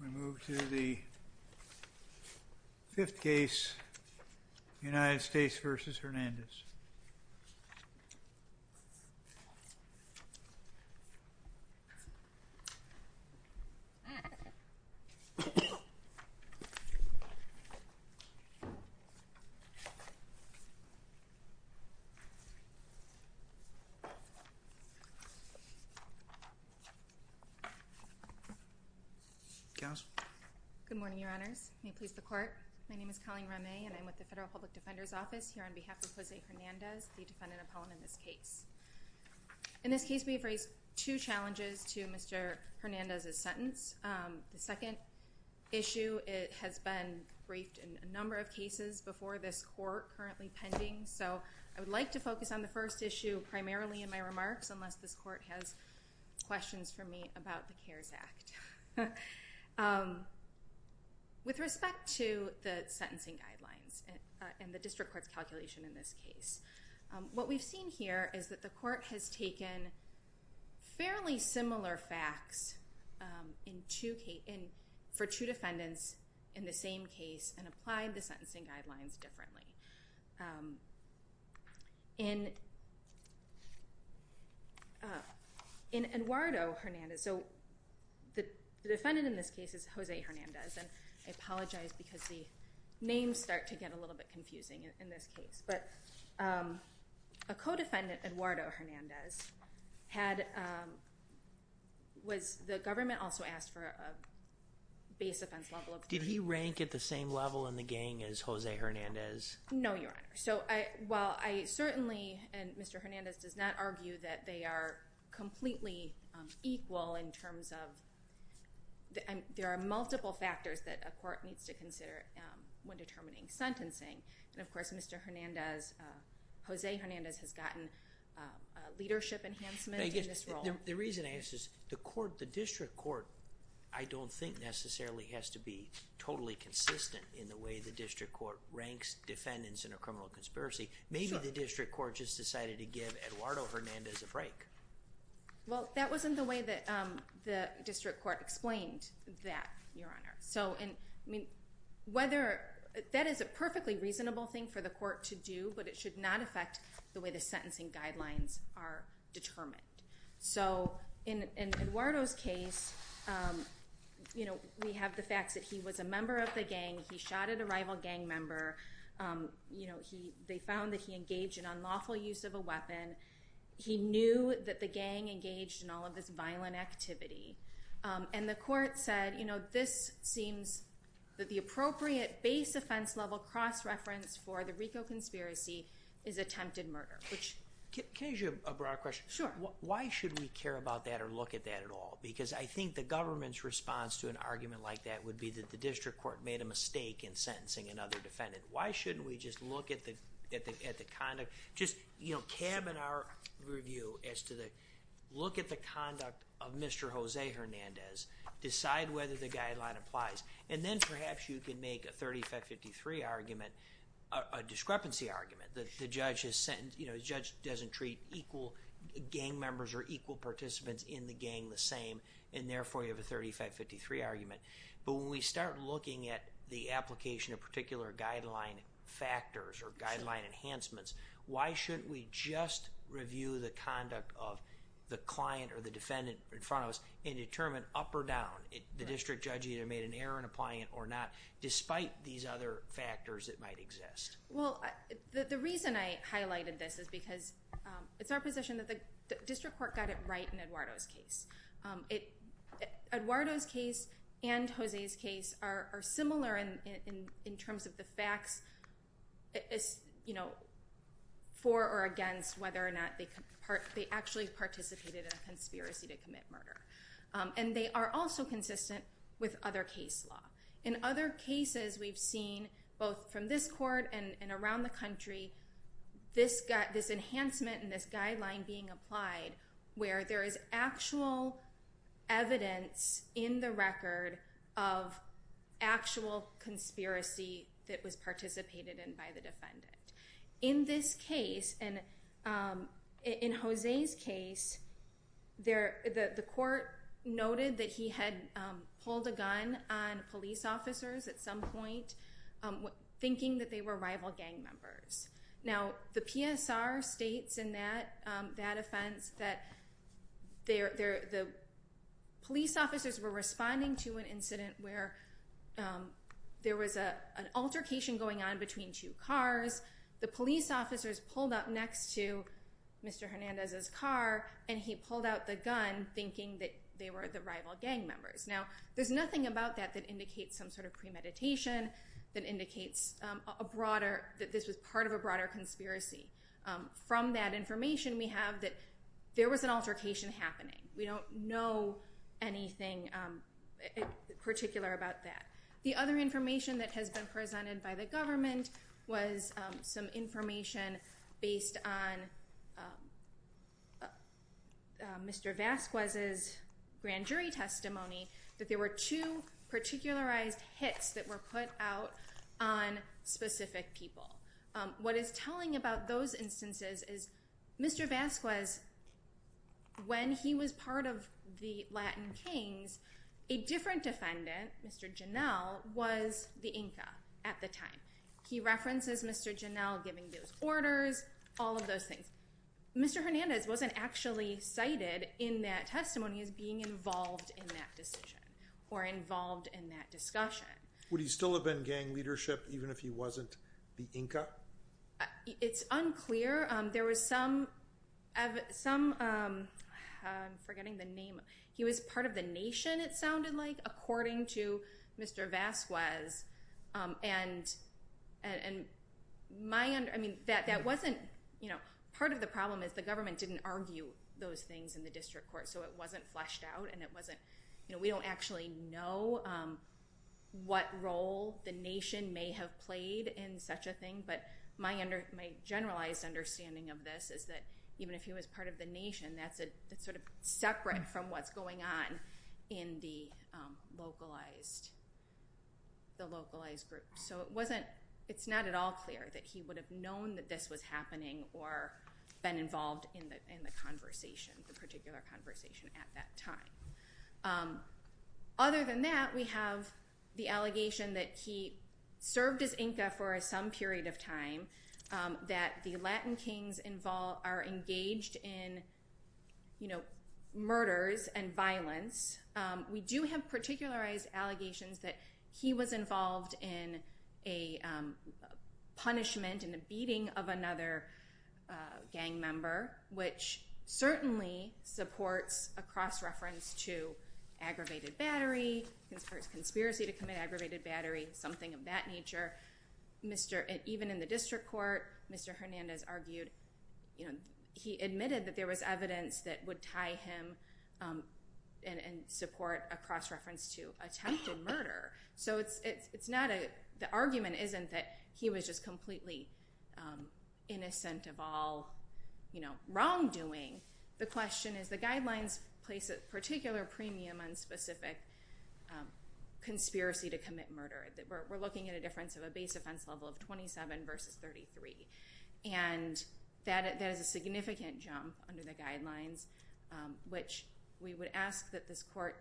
We move to the fifth case, United States v. Hernandez. Good morning, Your Honors. May it please the Court, my name is Colleen Rame, and I'm with the Federal Public Defender's Office here on behalf of Jose Hernandez, the defendant appellant in this case. In this case, we have raised two challenges to Mr. Hernandez's sentence. The second issue has been briefed in a number of cases before this Court, currently pending, so I would like to focus on the first issue primarily in my remarks, unless this Court has questions for me about the CARES Act. With respect to the sentencing guidelines and the District Court's calculation in this case, what we've seen here is that the Court has taken fairly similar facts for two defendants in the same case and applied the sentencing guidelines differently. In Eduardo Hernandez, so the defendant in this case is Jose Hernandez, and I apologize because the names start to get a little bit confusing in this case, but a co-defendant, Eduardo Hernandez, the government also asked for a base offense level of three. Did he rank at the same level in the gang as Jose Hernandez? No, Your Honor. So while I certainly, and Mr. Hernandez does not argue that they are completely equal in terms of, there are multiple factors that a court needs to consider when determining sentencing. And of course, Mr. Hernandez, Jose Hernandez has gotten leadership enhancement in this role. The reason I ask is, the District Court, I don't think necessarily has to be totally consistent in the way the District Court ranks defendants in a criminal conspiracy. Maybe the District Court just decided to give Eduardo Hernandez a break. Well, that wasn't the way that the District Court explained that, Your Honor. So, I mean, whether, that is a perfectly reasonable thing for the Court to do, but it should not affect the way the sentencing guidelines are determined. So, in Eduardo's case, you know, we have the facts that he was a member of the gang, he shot at a rival gang member, you know, they found that he engaged in unlawful use of a weapon. He knew that the gang engaged in all of this violent activity. And the Court said, you know, this seems that the appropriate base offense level cross-reference for the RICO conspiracy is attempted murder. Can I ask you a broad question? Sure. Why should we care about that or look at that at all? Because I think the government's response to an argument like that would be that the District Court made a mistake in sentencing another defendant. Why shouldn't we just look at the conduct, just, you know, cabin our review as to the, look at the conduct of Mr. Jose Hernandez, decide whether the guideline applies. And then perhaps you can make a 30-553 argument, a discrepancy argument. The judge has sent, you know, the judge doesn't treat equal gang members or equal participants in the gang the same, and therefore you have a 30-553 argument. But when we start looking at the application of particular guideline factors or guideline enhancements, why shouldn't we just review the conduct of the client or the defendant in front of us and determine up or down. The district judge either made an error in applying it or not, despite these other factors that might exist. Well, the reason I highlighted this is because it's our position that the District Court got it right in Eduardo's case. Eduardo's case and Jose's case are similar in terms of the facts, you know, for or against whether or not they actually participated in a conspiracy to commit murder. And they are also consistent with other case law. In other cases we've seen, both from this court and around the country, this enhancement and this guideline being applied where there is actual evidence in the record of actual conspiracy that was participated in by the defendant. In this case, and in Jose's case, the court noted that he had pulled a gun on police officers at some point, thinking that they were rival gang members. Now, the PSR states in that offense that the police officers were responding to an incident where there was an altercation going on between two cars. The police officers pulled up next to Mr. Hernandez's car, and he pulled out the gun, thinking that they were the rival gang members. Now, there's nothing about that that indicates some sort of premeditation, that indicates that this was part of a broader conspiracy. From that information we have that there was an altercation happening. We don't know anything particular about that. The other information that has been presented by the government was some information based on Mr. Vasquez's grand jury testimony, that there were two particularized hits that were put out on specific people. What is telling about those instances is Mr. Vasquez, when he was part of the Latin Kings, a different defendant, Mr. Janel, was the Inca at the time. He references Mr. Janel giving those orders, all of those things. Mr. Hernandez wasn't actually cited in that testimony as being involved in that decision, or involved in that discussion. Would he still have been gang leadership, even if he wasn't the Inca? It's unclear. There was some, I'm forgetting the name, he was part of the nation, it sounded like, according to Mr. Vasquez. Part of the problem is the government didn't argue those things in the district court, so it wasn't fleshed out. We don't actually know what role the nation may have played in such a thing, but my generalized understanding of this is that even if he was part of the nation, that's sort of separate from what's going on in the localized group. So it's not at all clear that he would have known that this was happening or been involved in the conversation, the particular conversation at that time. Other than that, we have the allegation that he served as Inca for some period of time, that the Latin kings are engaged in murders and violence. We do have particularized allegations that he was involved in a punishment and a beating of another gang member, which certainly supports a cross-reference to aggravated battery, conspiracy to commit aggravated battery, something of that nature. Even in the district court, Mr. Hernandez admitted that there was evidence that would tie him and support a cross-reference to attempted murder. So the argument isn't that he was just completely innocent of all wrongdoing. The question is the guidelines place a particular premium on specific conspiracy to commit murder. We're looking at a difference of a base offense level of 27 versus 33. And that is a significant jump under the guidelines, which we would ask that this court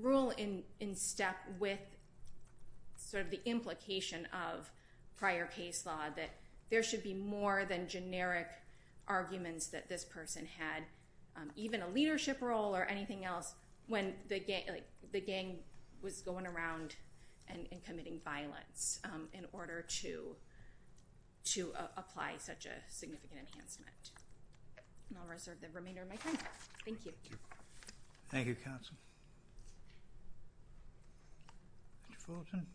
rule in step with sort of the implication of prior case law that there should be more than generic arguments that this person had, even a leadership role or anything else, when the gang was going around and committing violence in order to apply such a significant enhancement. And I'll reserve the remainder of my time. Thank you. Thank you, counsel. Mr. Fullerton.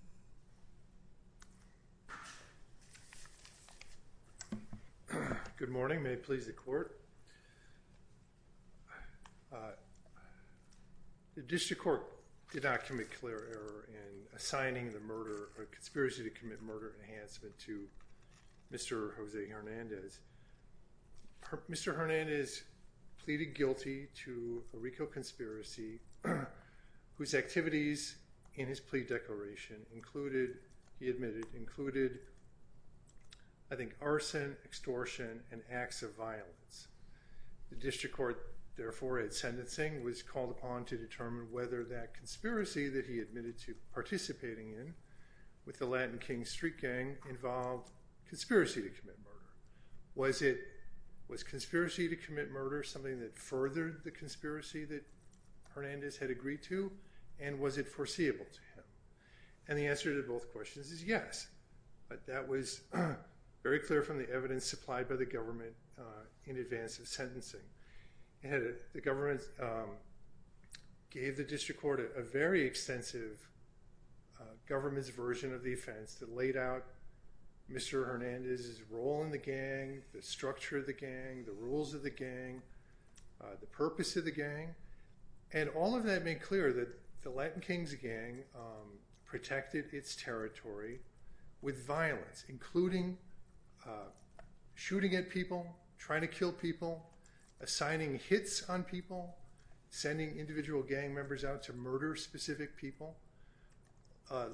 Good morning. May it please the court. The district court did not commit clear error in assigning the murder or conspiracy to commit murder enhancement to Mr. Jose Hernandez. Mr. Hernandez pleaded guilty to a RICO conspiracy whose activities in his plea declaration included, he admitted, included, I think, arson, extortion and acts of violence. The district court, therefore, at sentencing was called upon to determine whether that conspiracy that he admitted to participating in with the Latin King Street gang involved conspiracy to commit murder. Was it conspiracy to commit murder, something that furthered the conspiracy that Hernandez had agreed to? And was it foreseeable to him? And the answer to both questions is yes. But that was very clear from the evidence supplied by the government in advance of sentencing. The government gave the district court a very extensive government's version of the offense that laid out Mr. Hernandez's role in the gang, the structure of the gang, the rules of the gang, the purpose of the gang. And all of that made clear that the Latin Kings gang protected its territory with violence, including shooting at people, trying to kill people, assigning hits on people, sending individual gang members out to murder specific people.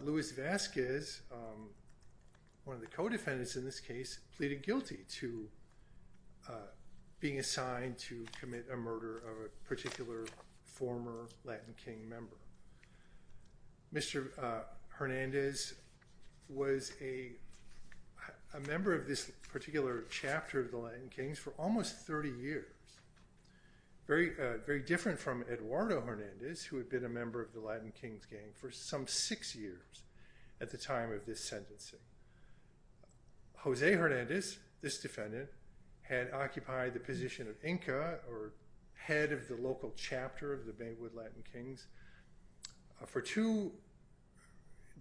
Luis Vasquez, one of the co-defendants in this case, pleaded guilty to being assigned to commit a murder of a particular former Latin King member. Mr. Hernandez was a member of this particular chapter of the Latin Kings for almost 30 years. Very different from Eduardo Hernandez, who had been a member of the Latin Kings gang for some six years at the time of this sentencing. Jose Hernandez, this defendant, had occupied the position of Inca, or head of the local chapter of the Baywood Latin Kings,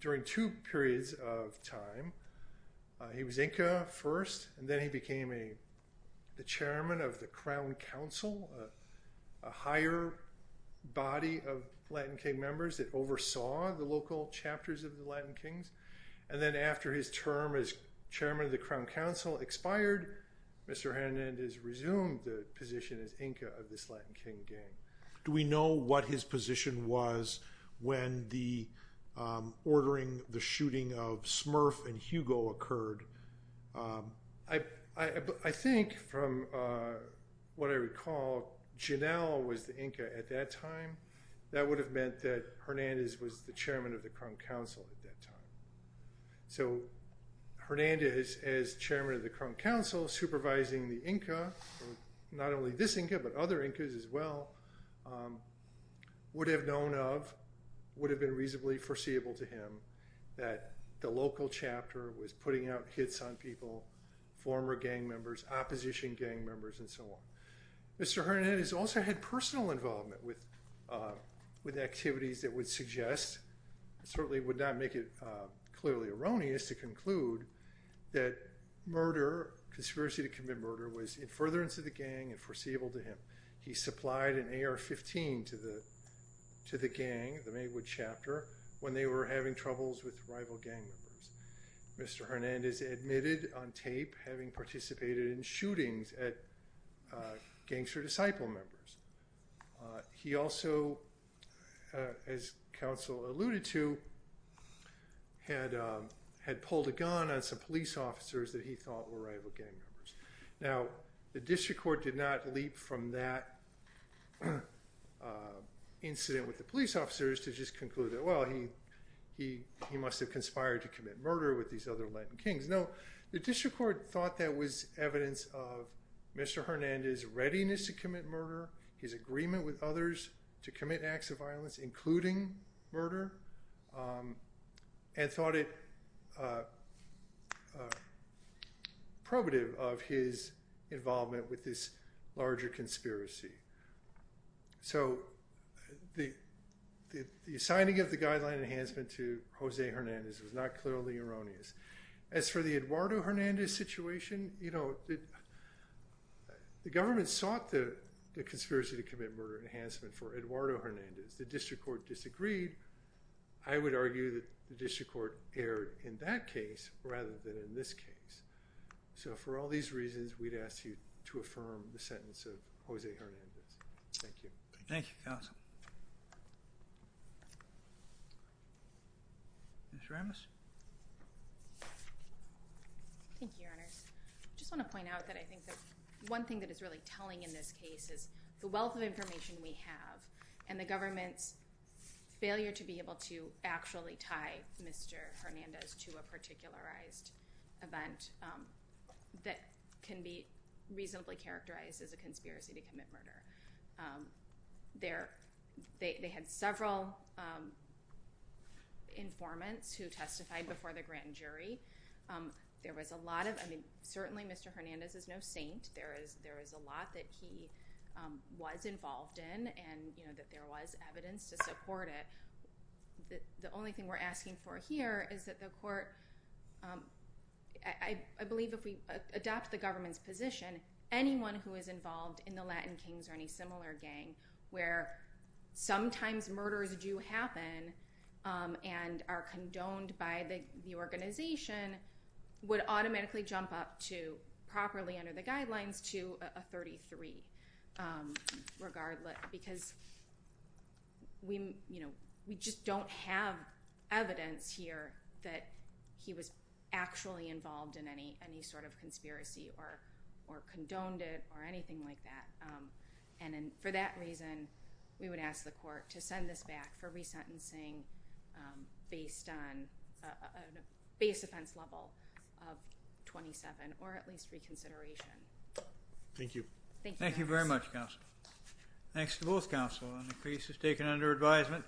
during two periods of time. He was Inca first, and then he became the chairman of the Crown Council, a higher body of Latin King members that oversaw the local chapters of the Latin Kings. And then after his term as chairman of the Crown Council expired, Mr. Hernandez resumed the position as Inca of this Latin King gang. Do we know what his position was when the ordering, the shooting of Smurf and Hugo occurred? I think from what I recall, Janelle was the Inca at that time. That would have meant that Hernandez was the chairman of the Crown Council at that time. So Hernandez, as chairman of the Crown Council, supervising the Inca, not only this Inca, but other Incas as well, would have known of, would have been reasonably foreseeable to him, that the local chapter was putting out hits on people, former gang members, opposition gang members, and so on. Mr. Hernandez also had personal involvement with activities that would suggest, certainly would not make it clearly erroneous to conclude, that murder, conspiracy to commit murder, was in furtherance of the gang and foreseeable to him. He supplied an AR-15 to the gang, the Maywood Chapter, when they were having troubles with rival gang members. Mr. Hernandez admitted on tape having participated in shootings at gangster disciple members. He also, as counsel alluded to, had pulled a gun on some police officers that he thought were rival gang members. Now, the district court did not leap from that incident with the police officers to just conclude that, well, he must have conspired to commit murder with these other Latin kings. No, the district court thought that was evidence of Mr. Hernandez' readiness to commit murder, his agreement with others to commit acts of violence, including murder, and thought it probative of his involvement with this larger conspiracy. So, the signing of the guideline enhancement to Jose Hernandez was not clearly erroneous. As for the Eduardo Hernandez situation, you know, the government sought the conspiracy to commit murder enhancement for Eduardo Hernandez. The district court disagreed. I would argue that the district court erred in that case rather than in this case. So, for all these reasons, we'd ask you to affirm the sentence of Jose Hernandez. Thank you. Thank you, counsel. Ms. Ramos? Thank you, Your Honors. I just want to point out that I think that one thing that is really telling in this case is the wealth of information we have and the government's failure to be able to actually tie Mr. Hernandez to a particularized event that can be reasonably characterized as a conspiracy to commit murder. They had several informants who testified before the grand jury. There was a lot of, I mean, certainly Mr. Hernandez is no saint. There is a lot that he was involved in and, you know, that there was evidence to support it. The only thing we're asking for here is that the court, I believe if we adopt the government's position, anyone who is involved in the Latin Kings or any similar gang where sometimes murders do happen and are condoned by the organization would automatically jump up to, properly under the guidelines, to a 33 regardless because, you know, we just don't have evidence here that he was actually involved in any sort of conspiracy or condoned it or anything like that. And for that reason, we would ask the court to send this back for resentencing based on a base offense level of 27 or at least reconsideration. Thank you. Thank you very much, counsel. Thanks to both counsel. The case is taken under advisement.